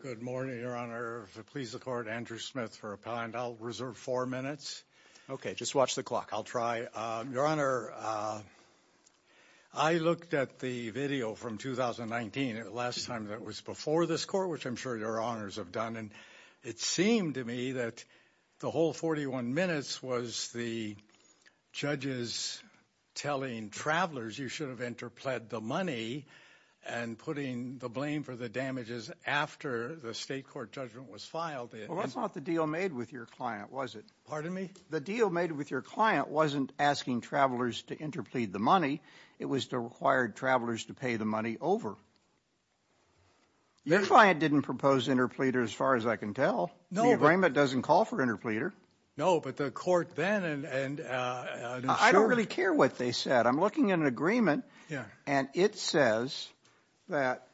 Good morning, Your Honor. If it pleases the court, Andrew Smith for appellant, I'll reserve four minutes. Okay, just watch the clock. I'll try. Your Honor, I looked at the video from 2019, the last time that was before this court, which I'm sure Your Honors have done, and it seemed to me that the whole 41 minutes was the judges telling travelers you should have interpled the money and putting the blame for the damages after the state court judgment was filed. Well, that's not the deal made with your client, was it? Pardon me? The deal made with your client wasn't asking travelers to interplead the money. It was to require travelers to pay the money over. Your client didn't propose interpleader as far as I can tell. No. The agreement doesn't call for interpleader. No, but the court then... I don't really care what they said. I'm looking at an agreement and it says that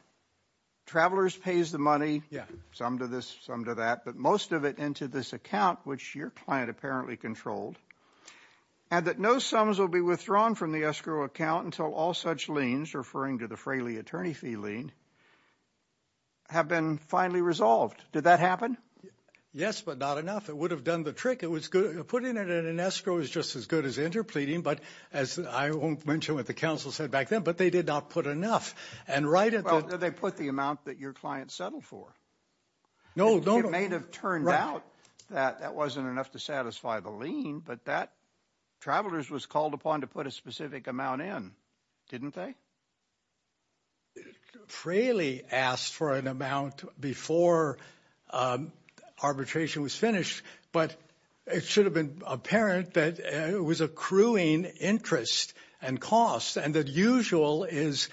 travelers pays the money, some to this, some to that, but most of it into this account, which your client apparently controlled, and that no sums will be withdrawn from the escrow account until all such liens, referring to the Fraley attorney fee lien, have been finally resolved. Did that happen? Yes, but not enough. It would have done the trick. Putting it in an escrow is just as good as interpleading, but as I won't mention what the counsel said back then, but they did not put enough. Well, they put the amount that your client settled for. It may have turned out that that wasn't enough to satisfy the lien, but that travelers was called upon to put a specific amount in, didn't they? Fraley asked for an amount before arbitration was finished, but it should have been apparent that it was accruing interest and cost, and the usual is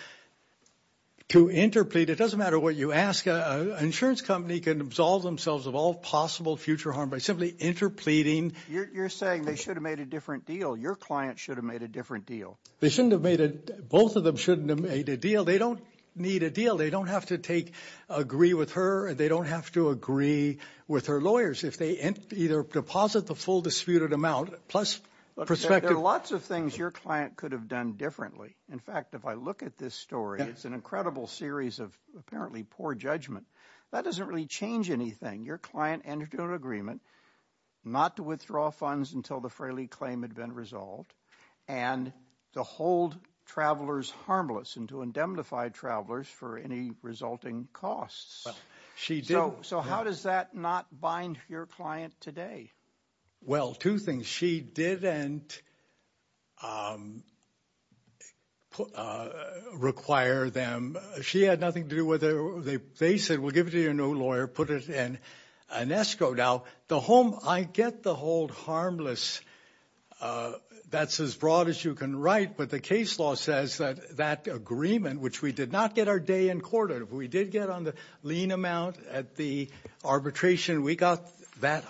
to interplead. It doesn't matter what you ask. An insurance company can absolve themselves of all possible future harm by simply interpleading. You're saying they should have made a different deal. Your client should have made a different deal. They shouldn't have made it. Both of them shouldn't have made a deal. They don't need a deal. They don't have to agree with her, and they don't have to agree with her lawyers if they either deposit the full disputed amount, plus perspective. There are lots of things your client could have done differently. In fact, if I look at this story, it's an incredible series of apparently poor judgment. That doesn't really change anything. Your client entered into an agreement not to withdraw funds until the Fraley claim had been resolved, and to hold travelers harmless and to indemnify travelers for any resulting costs. So how does that not bind your client today? Well, two things. She didn't require them. She had nothing to do with it. They said, we'll give it to your new lawyer, put it in an escrow. Now, I get the hold harmless. That's as broad as you can write, but the case law says that that agreement, which we did not get our day in court on. If we did get on the lien amount at the arbitration, we got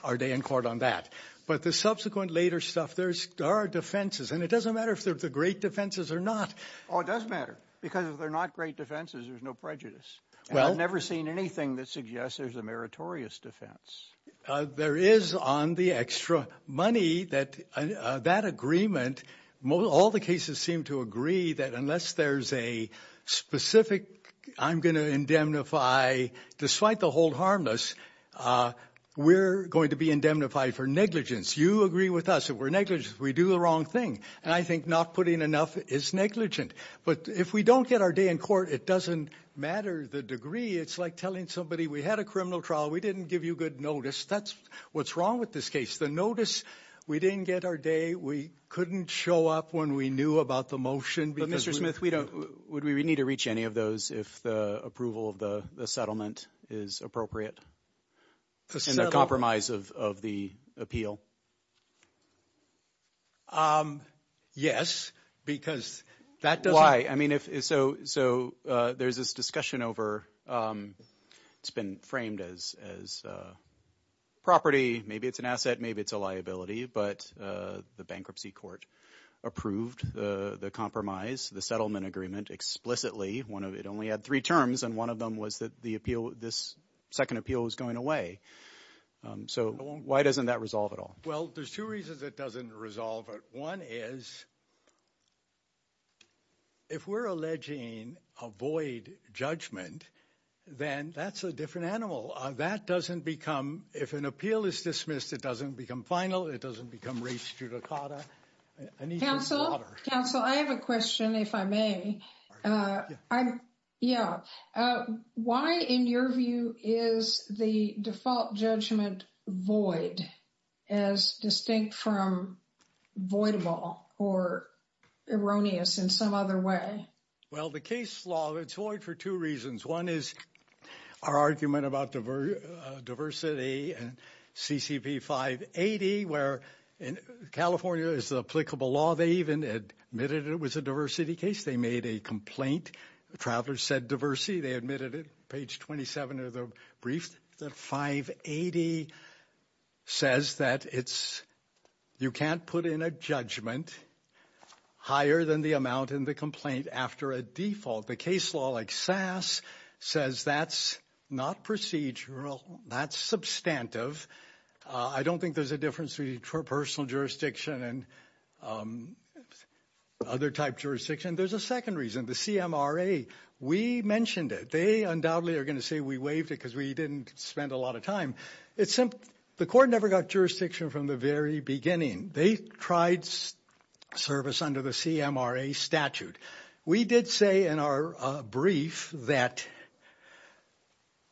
our day in court on that. But the subsequent later stuff, there are defenses, and it doesn't matter if they're the great defenses or not. Oh, it does matter, because if they're not great defenses, there's no prejudice. I've never seen anything that suggests there's a meritorious defense. There is on the extra money that that agreement, all the cases seem to agree that unless there's a specific, I'm going to indemnify, despite the hold harmless, we're going to be indemnified for negligence. You agree with us. If we're negligent, we do the wrong thing. And I think not putting enough is negligent. But if we don't get our day in court, it doesn't matter the degree. It's like telling somebody, we had a criminal trial. We didn't give you good notice. That's what's wrong with this case. The notice, we didn't get our day. We couldn't show up when we knew about the motion. But, Mr. Smith, we don't, would we need to reach any of those if the approval of the settlement is appropriate in the compromise of the appeal? Yes, because that doesn't Why? So there's this discussion over, it's been framed as property, maybe it's an asset, maybe it's a liability, but the bankruptcy court approved the compromise, the settlement agreement explicitly. It only had three terms and one of them was that the appeal, this second appeal, was going away. So why doesn't that resolve it all? Well, there's two reasons it doesn't resolve it. One is, if we're alleging a void judgment, then that's a different animal. That doesn't become, if an appeal is dismissed, it doesn't become final. It doesn't become res judicata. Counsel, counsel, I have a question, if I may. Yeah. Why, in your view, is the default judgment void as distinct from voidable or erroneous in some other way? Well, the case law, it's void for two reasons. One is our argument about diversity and CCP 580, where in California is the applicable law. They even admitted it was a diversity case. They made a complaint. Travelers said diversity. They admitted it. Page 27 of the brief, the 580 says that it's, you can't put in a judgment higher than the amount in the complaint after a default. The case law like SAS says that's not procedural. That's substantive. I don't think there's a difference between personal jurisdiction and other type jurisdiction. There's a second reason, the CMRA. We mentioned it. They undoubtedly are going to say we waived it because we didn't spend a lot of time. It's simple. The court never got jurisdiction from the very beginning. They tried service under the CMRA statute. We did say in our brief that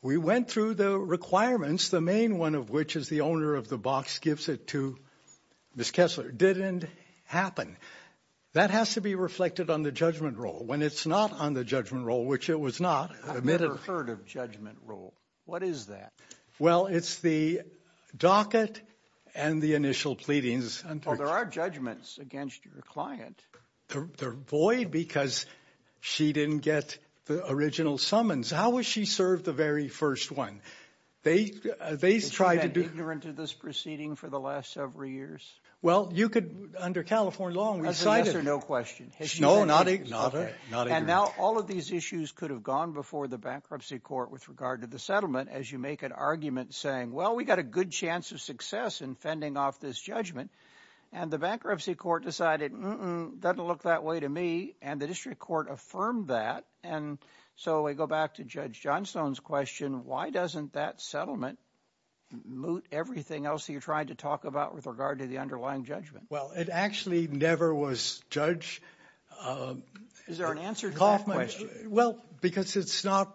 we went through the requirements, the main one of which is the owner of the box gives it to Ms. Kessler, didn't happen. That has to be reflected on the judgment role. When it's not on the judgment role, which it was not, I've never heard of judgment role. What is that? Well, it's the docket and the initial pleadings. Well, there are judgments against your client. They're void because she didn't get the original summons. How was she served the very first one? They, they tried to do... Is she been ignorant of this proceeding for the last several years? Well, you could, under California law, we cited... That's a yes or no question. No, not ignorant. And now all of these issues could have gone before the bankruptcy court with regard to the settlement as you make an argument saying, well, we got a good chance of success in fending off this judgment. And the bankruptcy court decided, mm-mm, doesn't look that way to me. And the district court affirmed that. And so we go back to Judge Johnstone's question. Why doesn't that settlement moot everything else that you're trying to talk about with regard to the underlying judgment? Well, it actually never was, Judge. Is there an answer to that question? Well, because it's not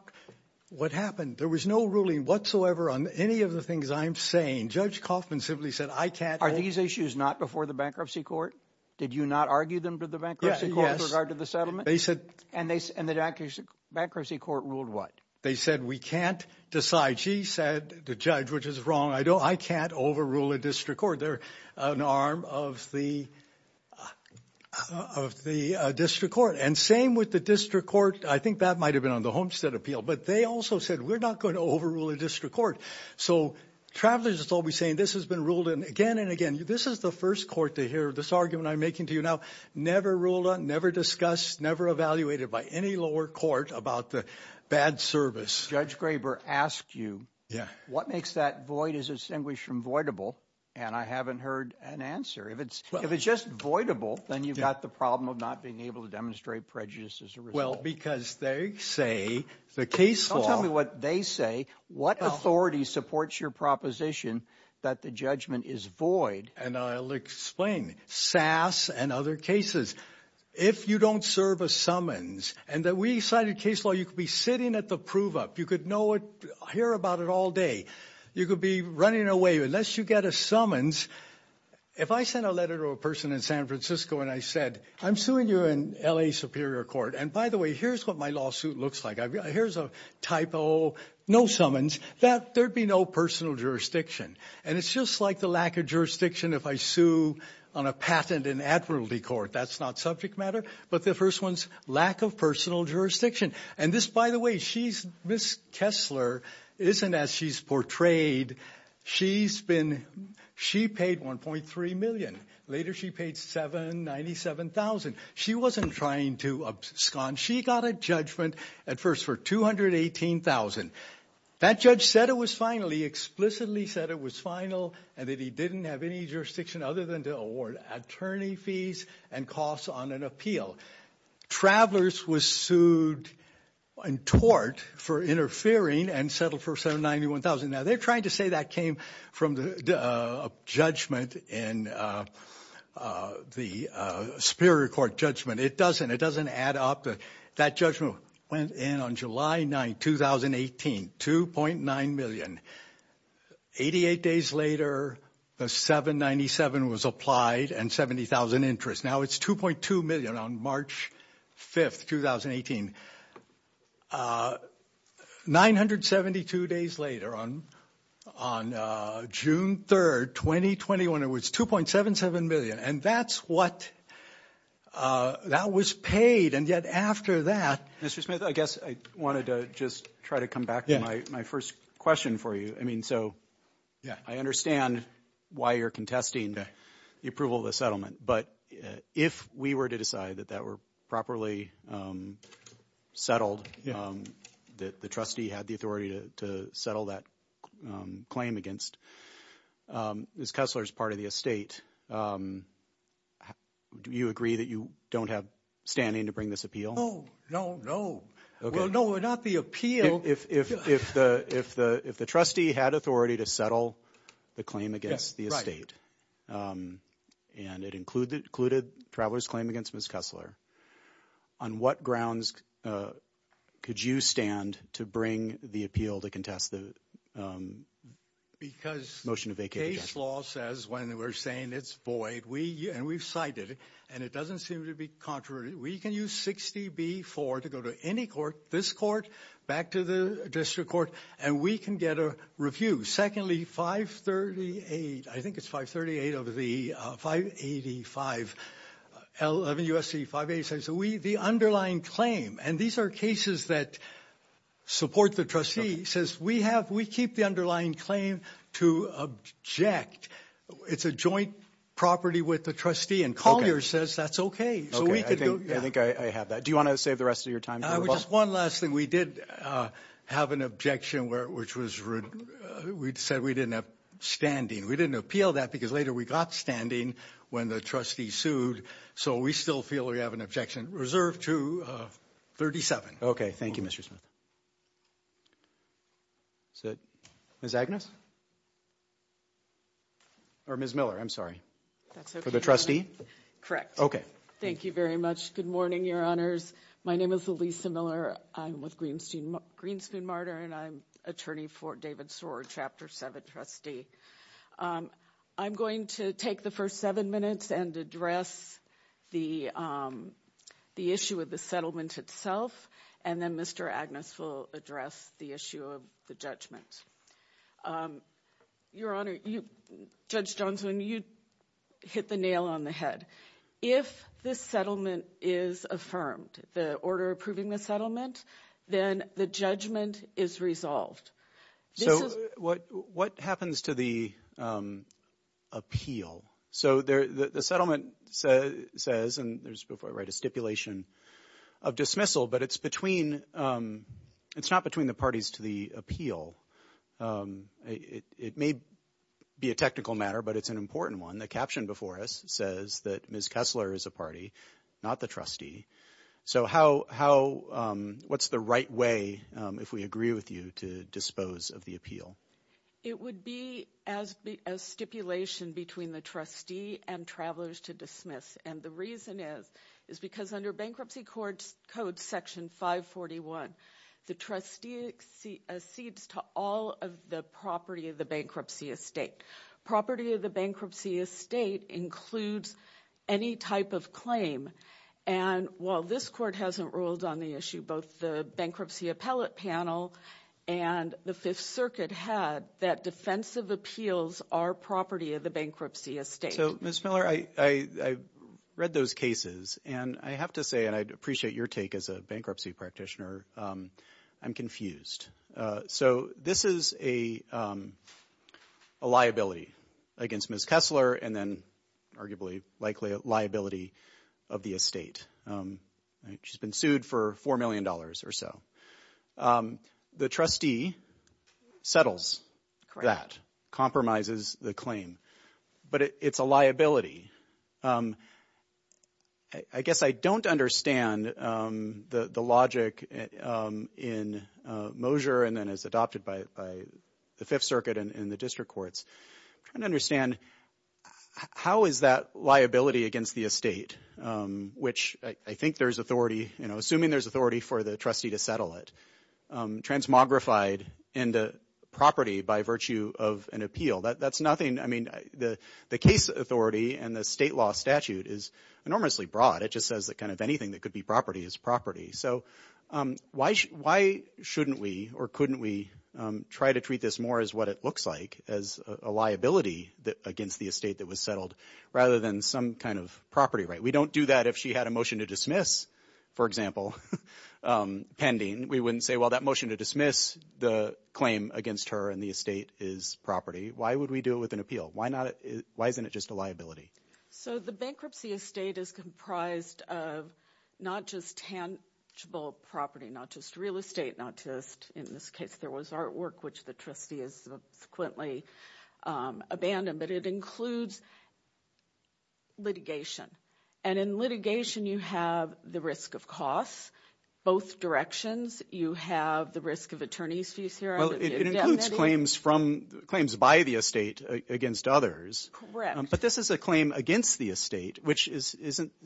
what happened. There was no ruling whatsoever on any of the things I'm saying. Judge Kaufman simply said, I can't... Are these issues not before the bankruptcy court? Did you not argue them to the bankruptcy court with regard to the settlement? They said... And the bankruptcy court ruled what? They said, we can't decide. She said, the judge, which is wrong, I don't, I can't overrule a district court. They're an arm of the, of the district court. And same with the district court. I think that might've been on the Homestead Appeal, but they also said, we're not going to overrule a district court. So travelers will be saying, this has been ruled in again and again. This is the first court to hear this argument I'm making to you now. Never ruled on, never discussed, never evaluated by any lower court about the bad service. Judge Graber asked you, what makes that void is distinguished from voidable? And I haven't heard an answer. If it's, if it's just voidable, then you've got the problem of not being able to demonstrate prejudice as a result. Well, because they say, the case law. Don't tell me what they say. What authority supports your proposition that the judgment is void? And I'll explain. SAS and other cases. If you don't serve a summons and that we cited case law, you could be sitting at the prove up. You could know it, hear about it all day. You could be running away unless you get a summons. If I sent a letter to a person in San Francisco and I said, I'm suing you in L.A. Superior Court. And by the way, here's what my lawsuit looks like. Here's a typo. No summons that there'd be no personal jurisdiction. And it's just like the lack of jurisdiction. If I sue on a patent in Admiralty Court, that's not subject matter. But the first one's lack of personal jurisdiction. And this, by the way, she's Miss Kessler isn't as she's portrayed. She's been she paid 1.3 million. Later, she paid 797,000. She wasn't trying to abscond. She got a judgment at first for 218,000. That judge said it was finally explicitly said it was final and that he didn't have any jurisdiction other than to award attorney fees and costs on an Travelers was sued and tort for interfering and settled for 791,000. Now they're trying to say that came from the judgment in the Superior Court judgment. It doesn't. It doesn't add up. That judgment went in on July 9, 2018, 2.9 million. 88 days later, the 797 was applied and 70,000 interest. Now it's 2.2 million on March 5th, 2018. 972 days later on on June 3rd, 2021, it was 2.77 million. And that's what that was paid. And yet after that, Mr. Smith, I guess I wanted to just try to come back to my first question for you. I mean, so, yeah, I understand why you're contesting the approval of the settlement. But if we were to decide that that were properly settled, that the trustee had the authority to settle that claim against this, Kessler's part of the estate. Do you agree that you don't have standing to bring this appeal? Oh, no, no. Well, no, we're not the appeal. If the trustee had authority to settle the claim against the estate, and it included Traveler's claim against Ms. Kessler, on what grounds could you stand to bring the appeal to contest the motion of vacating the judgment? Because case law says when we're saying it's void, and we've cited it, and it doesn't seem to be contrary, we can use 60B-4 to go to any court, this court, back to the district court, and we can get a review. Secondly, 538, I think it's 538 of the 585, 11 U.S.C. 586, the underlying claim, and these are cases that support the trustee, says we keep the underlying claim to object. It's a joint property with the trustee, and Collier says that's okay, so we could go... Okay, I think I have that. Do you want to save the rest of your time? Just one last thing. We did have an objection, which was we said we didn't have standing. We didn't appeal that because later we got standing when the trustee sued, so we still feel we have an objection reserved to 37. Okay, thank you, Mr. Smith. Ms. Agnes? Or Ms. Miller, I'm sorry. For the trustee? Correct. Thank you very much. Good morning, Your Honors. My name is Elisa Miller. I'm with Greenspoon Martyr, and I'm attorney for David Soarer, Chapter 7 trustee. I'm going to take the first seven minutes and address the issue of the settlement itself, and then Mr. Agnes will address the issue of the judgment. Your Honor, Judge Johnson, you hit the nail on the head. If this settlement is affirmed, the order approving the settlement, then the judgment is resolved. So what happens to the appeal? So the settlement says, and there's before I write a stipulation of dismissal, but it's not between the parties to the appeal. It may be a technical matter, but it's an important one. The caption before us says that Ms. Kessler is a party, not the trustee. So what's the right way, if we agree with you, to dispose of the appeal? It would be a stipulation between the trustee and travelers to dismiss, and the reason is because under Bankruptcy Code Section 541, the trustee accedes to all of the property of the bankruptcy estate. Property of the bankruptcy estate includes any type of claim, and while this Court hasn't ruled on the issue, both the Bankruptcy Appellate Panel and the Fifth Circuit had, that defensive appeals are property of the bankruptcy estate. So Ms. Miller, I read those cases, and I have to say, and I'd appreciate your take as a bankruptcy practitioner, I'm confused. So this is a liability against Ms. Kessler, and then arguably likely a liability of the estate. She's been sued for $4 million or so. The trustee settles that, compromises the claim, but it's a liability. I guess I don't understand the logic in Mosier, and then as adopted by the Fifth Circuit and the district courts. I'm trying to understand, how is that liability against the estate, which I think there's authority, assuming there's authority for the trustee to settle it, transmogrified into property by virtue of an appeal? That's nothing, I mean, the case authority and the state law statute is enormously broad. It just says that kind of anything that could be property is property. So why shouldn't we or couldn't we try to treat this more as what it looks like, as a liability against the estate that was settled, rather than some kind of property right? We don't do that if she had a motion to dismiss, for example, pending. We wouldn't say, well, that motion to dismiss the claim against her and the estate is property. Why would we do it with an appeal? Why isn't it just a liability? So the bankruptcy estate is comprised of not just tangible property, not just real estate, not just, in this case, there was artwork, which the trustee has subsequently abandoned. But it includes litigation. And in litigation, you have the risk of costs, both directions. You have the risk of attorney's fees here. Well, it includes claims by the estate against others. Correct. But this is a claim against the estate, which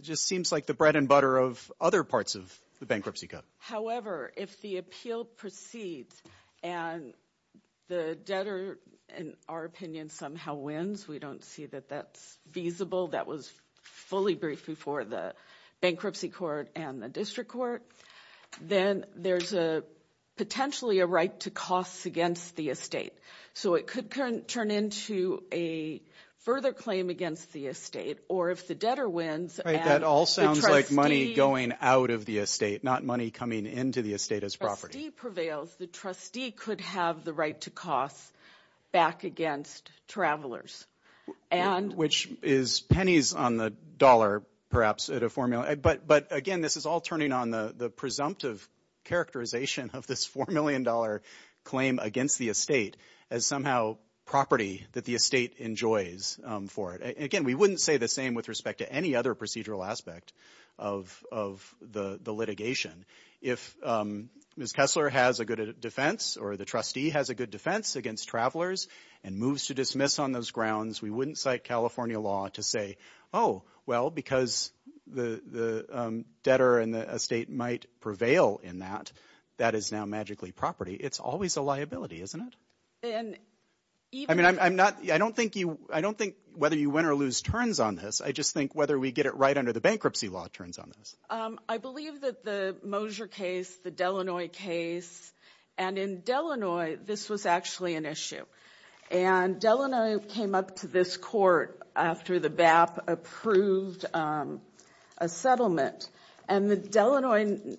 just seems like the bread and butter of other parts of the bankruptcy cut. However, if the appeal proceeds and the debtor, in our opinion, somehow wins, we don't see that that's feasible, that was fully briefed before the bankruptcy court and the district court, then there's potentially a right to costs against the estate. So it could turn into a further claim against the estate. Or if the debtor wins... Right, that all sounds like money going out of the estate, not money coming into the estate as property. If the trustee prevails, the trustee could have the right to costs back against travelers. Which is pennies on the dollar, perhaps, at a formula. But again, this is all turning on the presumptive characterization of this $4 million claim against the estate as somehow property that the estate enjoys for it. Again, we wouldn't say the same with respect to any other procedural aspect of the litigation. If Ms. Kessler has a good defense or the trustee has a good defense against travelers and moves to dismiss on those grounds, we wouldn't cite California law to say, oh, well, because the debtor and the estate might prevail in that, that is now magically property. It's always a liability, isn't it? I mean, I don't think whether you win or lose turns on this. I just think whether we get it right under the bankruptcy law turns on this. I believe that the Mosier case, the Delanoy case, and in Delanoy, this was actually an issue. And Delanoy came up to this court after the BAP approved a settlement. And the Delanoy,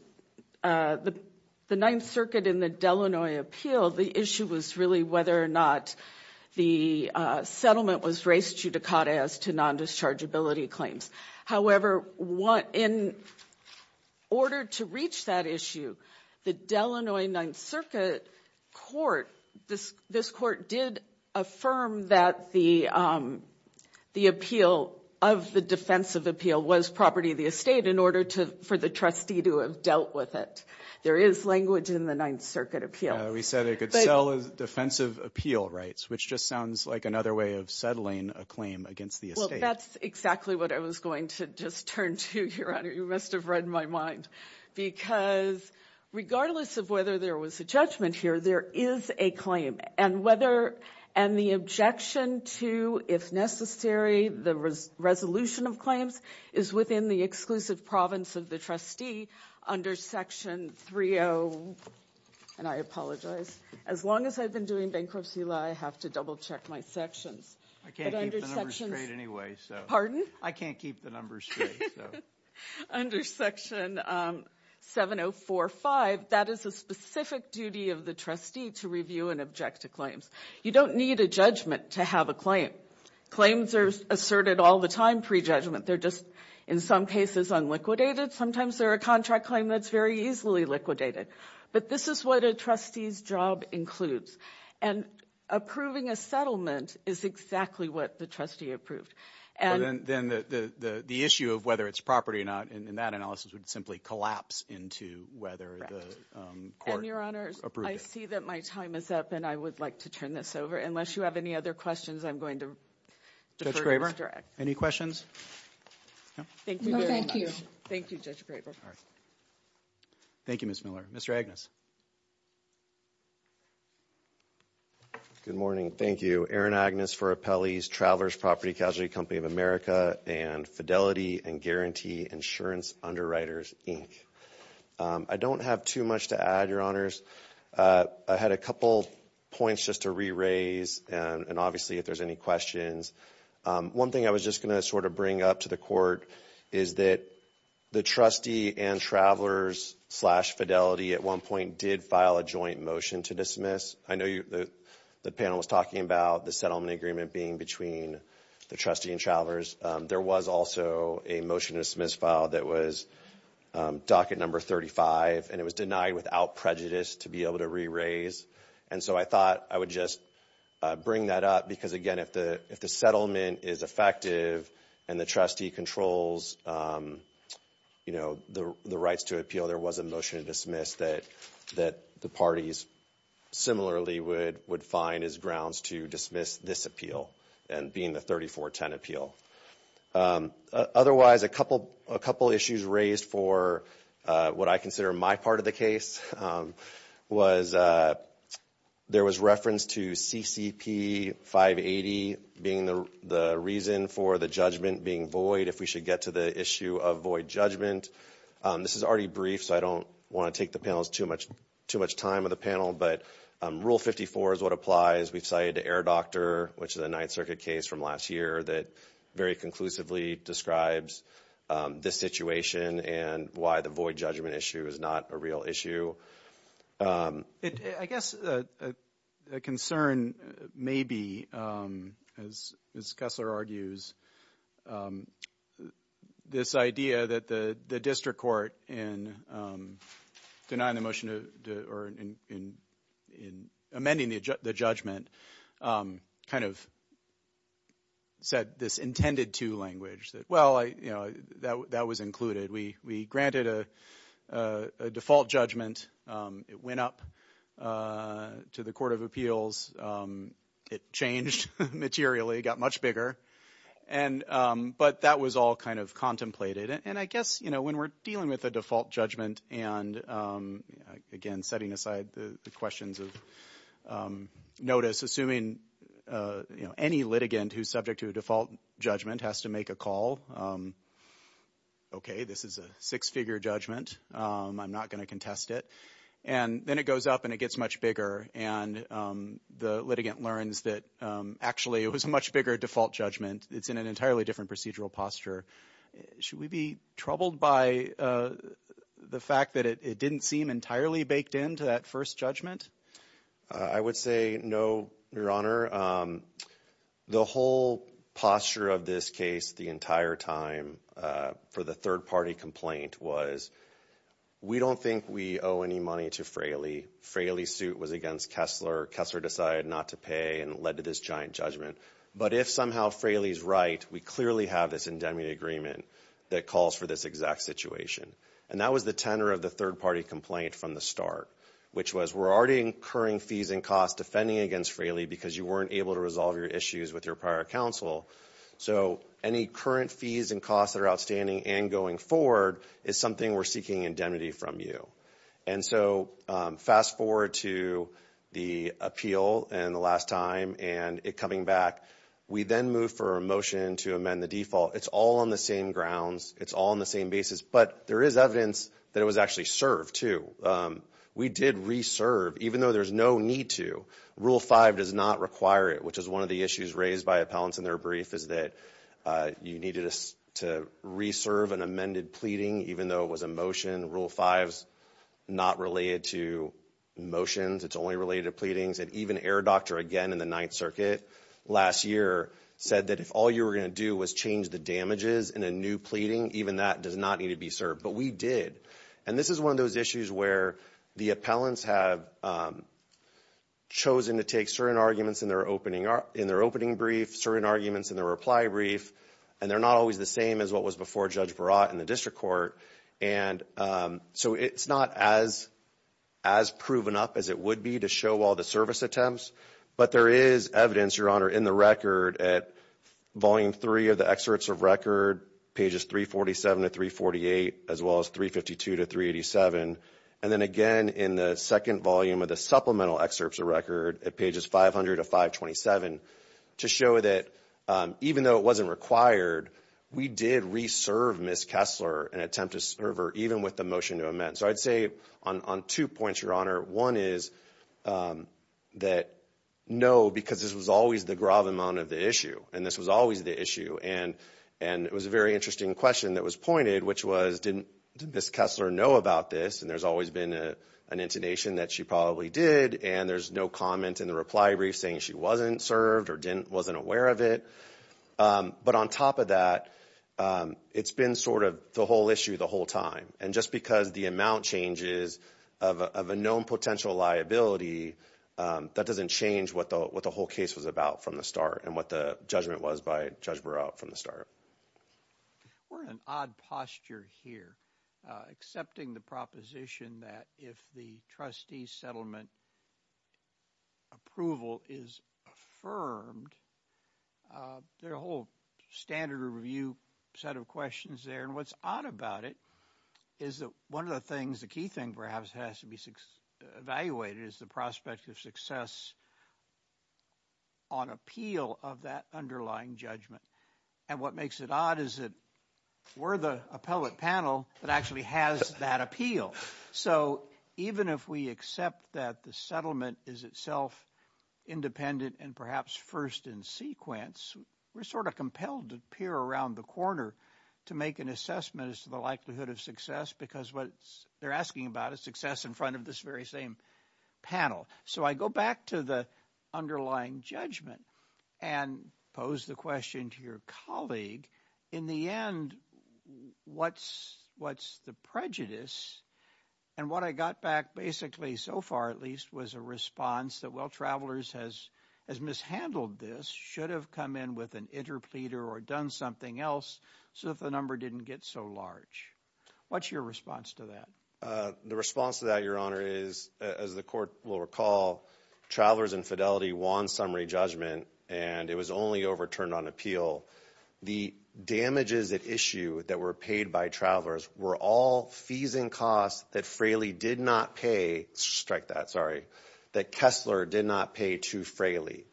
the Ninth Circuit in the Delanoy appeal, the issue was really whether or not the settlement was raised judicata as to nondischargeability claims. However, in order to reach that issue, the Delanoy Ninth Circuit court, this court did affirm that the appeal of the defensive appeal was property of the estate in order for the trustee to have dealt with it. There is language in the Ninth Circuit appeal. We said it could sell defensive appeal rights, which just sounds like another way of settling a claim against the estate. That's exactly what I was going to just turn to, Your Honor. You must have read my mind. Because regardless of whether there was a judgment here, there is a claim. And the objection to, if necessary, the resolution of claims is within the exclusive province of the trustee under section 30, and I apologize. As long as I've been doing bankruptcy law, I have to double check my sections. I can't keep the numbers straight anyway, so. Pardon? I can't keep the numbers straight, so. Under section 7045, that is a specific duty of the trustee to review and object to claims. You don't need a judgment to have a claim. Claims are asserted all the time pre-judgment. They're just, in some cases, unliquidated. Sometimes they're a contract claim that's very easily liquidated. But this is what a trustee's job includes. And approving a settlement is exactly what the trustee approved. But then the issue of whether it's property or not, in that analysis, would simply collapse into whether the court approved it. And, Your Honors, I see that my time is up, and I would like to turn this over. Unless you have any other questions, I'm going to defer to the Director. Any questions? No, thank you. Thank you, Judge Graber. Thank you, Ms. Miller. Mr. Agnes. Good morning. Thank you. I'm here for appellees, Travelers Property Casualty Company of America, and Fidelity and Guarantee Insurance Underwriters, Inc. I don't have too much to add, Your Honors. I had a couple points just to re-raise, and obviously, if there's any questions. One thing I was just going to sort of bring up to the court is that the trustee and Travelers slash Fidelity, at one point, did file a joint motion to dismiss. I know the panel was talking about the settlement agreement being between the trustee and Travelers. There was also a motion to dismiss file that was docket number 35, and it was denied without prejudice to be able to re-raise. And so, I thought I would just bring that up because, again, if the settlement is effective and the trustee controls, you know, the rights to appeal, I know there was a motion to dismiss that the parties similarly would find as grounds to dismiss this appeal, and being the 3410 appeal. Otherwise, a couple issues raised for what I consider my part of the case was there was reference to CCP 580 being the reason for the judgment being void, if we should get to the issue of void judgment. This is already brief, so I don't want to take the panel's too much time of the panel, but Rule 54 is what applies. We've cited the Air Doctor, which is a Ninth Circuit case from last year that very conclusively describes this situation and why the void judgment issue is not a real issue. So, I guess a concern may be, as Kessler argues, this idea that the district court in denying the motion or in amending the judgment kind of said this intended to language that, well, you know, that was included. We granted a default judgment, it went up to the Court of Appeals, it changed materially, got much bigger, but that was all kind of contemplated. And I guess, you know, when we're dealing with a default judgment and, again, setting aside the questions of notice, assuming, you know, any litigant who's subject to a default judgment has to make a call, okay, this is a six-figure judgment, I'm not going to contest it. And then it goes up and it gets much bigger, and the litigant learns that, actually, it was a much bigger default judgment. It's in an entirely different procedural posture. Should we be troubled by the fact that it didn't seem entirely baked into that first judgment? I would say no, Your Honor. The whole posture of this case the entire time for the third-party complaint was, we don't think we owe any money to Fraley. Fraley's suit was against Kessler. Kessler decided not to pay and led to this giant judgment. But if somehow Fraley's right, we clearly have this indemnity agreement that calls for this exact situation. And that was the tenor of the third-party complaint from the start, which was, we're already incurring fees and costs defending against Fraley because you weren't able to resolve your issues with your prior counsel. So any current fees and costs that are outstanding and going forward is something we're seeking indemnity from you. And so fast-forward to the appeal and the last time and it coming back. We then move for a motion to amend the default. It's all on the same grounds. It's all on the same basis. But there is evidence that it was actually served, too. We did re-serve, even though there's no need to. Rule 5 does not require it, which is one of the issues raised by appellants in their brief, is that you needed to re-serve an amended pleading, even though it was a motion. Rule 5's not related to motions. It's only related to pleadings. And even Air Doctor, again in the Ninth Circuit last year, said that if all you were going to do was change the damages in a new pleading, even that does not need to be served. But we did. And this is one of those issues where the appellants have chosen to take certain arguments in their opening brief, certain arguments in their reply brief, and they're not always the same as what was before Judge Barat in the district court. And so it's not as proven up as it would be to show all the service attempts. But there is evidence, Your Honor, in the record at Volume 3 of the excerpts of record, pages 347 to 348, as well as 352 to 387. And then again in the second volume of the supplemental excerpts of record at pages 500 to 527, to show that even though it wasn't required, we did re-serve Ms. Kessler and attempt to serve her even with the motion to amend. So I'd say on two points, Your Honor. One is that no, because this was always the gravamonte of the issue, and this was always the issue. And it was a very interesting question that was pointed, which was, didn't Ms. Kessler know about this? And there's always been an intonation that she probably did. And there's no comment in the reply brief saying she wasn't served or wasn't aware of it. But on top of that, it's been sort of the whole issue the whole time. And just because the amount changes of a known potential liability, that doesn't change what the whole case was about from the start and what the judgment was by Judge Barat from the start. We're in an odd posture here, accepting the proposition that if the trustee settlement approval is affirmed, there are a whole standard review set of questions there. And what's odd about it is that one of the things, the key thing perhaps has to be evaluated, is the prospect of success on appeal of that underlying judgment. And what makes it odd is that we're the appellate panel that actually has that appeal. So even if we accept that the settlement is itself independent and perhaps first in sequence, we're sort of compelled to peer around the corner to make an assessment as to the likelihood of success, because what they're asking about is success in front of this very same panel. So I go back to the underlying judgment and pose the question to your colleague. In the end, what's what's the prejudice? And what I got back basically so far, at least, was a response that well, travelers has as mishandled this should have come in with an interpleader or done something else. So if the number didn't get so large, what's your response to that? The response to that, Your Honor, is as the court will recall, travelers infidelity won summary judgment and it was only overturned on appeal. The damages at issue that were paid by travelers were all fees and costs that Fraley did not pay. Strike that, sorry. That Kessler did not pay to Fraley.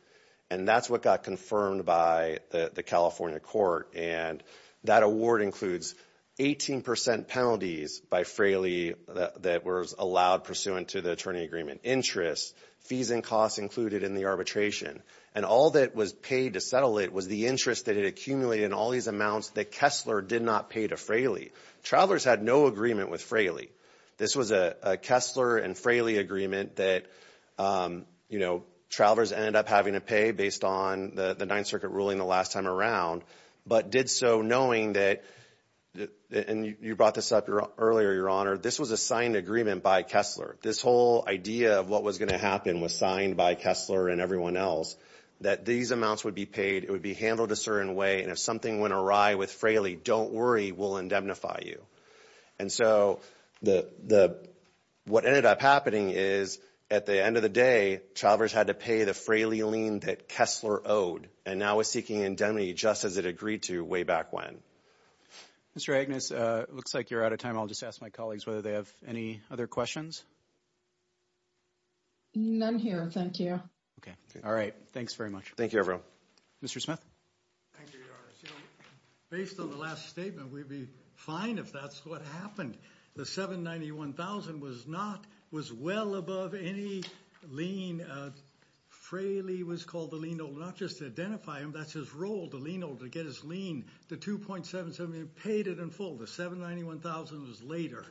And that's what got confirmed by the California court. And that award includes 18% penalties by Fraley that was allowed pursuant to the attorney agreement interest, fees and costs included in the arbitration. And all that was paid to settle it was the interest that had accumulated in all these amounts that Kessler did not pay to Fraley. Travelers had no agreement with Fraley. This was a Kessler and Fraley agreement that, you know, travelers ended up having to pay based on the Ninth Circuit ruling the last time around. But did so knowing that, and you brought this up earlier, Your Honor, this was a signed agreement by Kessler. This whole idea of what was going to happen was signed by Kessler and everyone else. That these amounts would be paid, it would be handled a certain way, and if something went awry with Fraley, don't worry, we'll indemnify you. And so what ended up happening is at the end of the day, travelers had to pay the Fraley lien that Kessler owed and now is seeking indemnity just as it agreed to way back when. Mr. Agnes, it looks like you're out of time. I'll just ask my colleagues whether they have any other questions. None here. Thank you. All right. Thanks very much. Thank you, everyone. Mr. Smith. Based on the last statement, we'd be fine if that's what happened. The $791,000 was well above any lien. Fraley was called the lien holder, not just to identify him, that's his role, the lien holder, to get his lien. The $2.77 million, paid it in full. The $791,000 was later.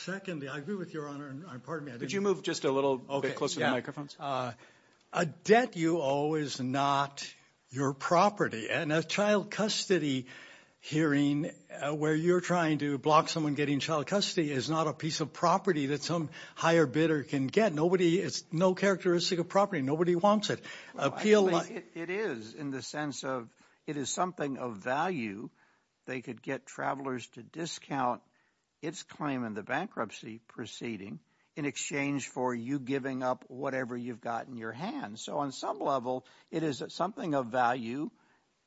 Secondly, I agree with Your Honor. Pardon me. Could you move just a little bit closer to the microphones? A debt you owe is not your property. And a child custody hearing where you're trying to block someone getting child custody is not a piece of property that some higher bidder can get. Nobody, it's no characteristic of property. Nobody wants it. It is in the sense of it is something of value. They could get travelers to discount its claim in the bankruptcy proceeding in exchange for you giving up whatever you've got in your hand. So on some level, it is something of value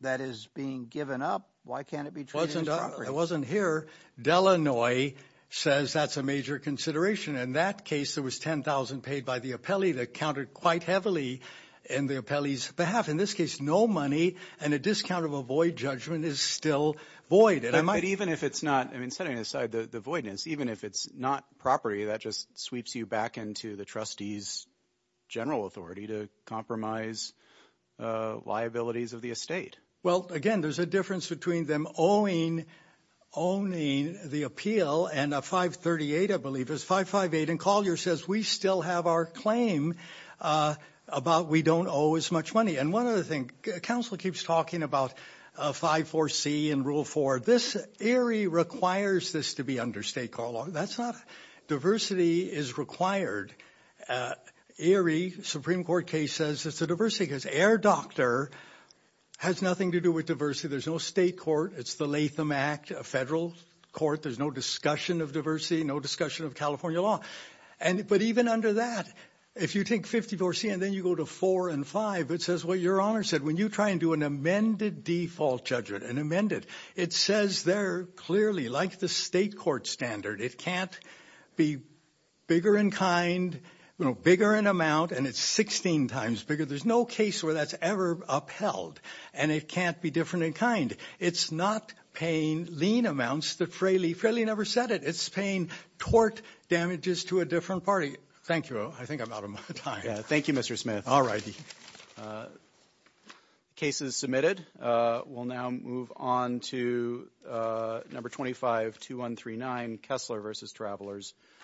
that is being given up. Why can't it be treated as property? It wasn't here. Delanoy says that's a major consideration. In that case, there was $10,000 paid by the appellee that counted quite heavily in the appellee's behalf. In this case, no money and a discount of a void judgment is still void. But even if it's not, I mean, setting aside the voidness, even if it's not property, that just sweeps you back into the trustee's general authority to compromise liabilities of the estate. Well, again, there's a difference between them owing, owning the appeal and a 538, I believe, is 558. And Collier says we still have our claim about we don't owe as much money. And one other thing. Counsel keeps talking about 5-4-C and Rule 4. This ERIE requires this to be under stakeholder. That's not diversity is required. ERIE Supreme Court case says it's a diversity case. Air Doctor has nothing to do with diversity. There's no state court. It's the Latham Act, a federal court. There's no discussion of diversity, no discussion of California law. But even under that, if you take 54C and then you go to 4 and 5, it says what your honor said. When you try and do an amended default judgment, an amended, it says there clearly, like the state court standard, it can't be bigger in kind, bigger in amount, and it's 16 times bigger. There's no case where that's ever upheld. And it can't be different in kind. It's not paying lien amounts that Fraley never said it. It's paying tort damages to a different party. Thank you. I think I'm out of time. Thank you, Mr. Smith. All right. The case is submitted. We'll now move on to number 252139, Kessler v. Travelers.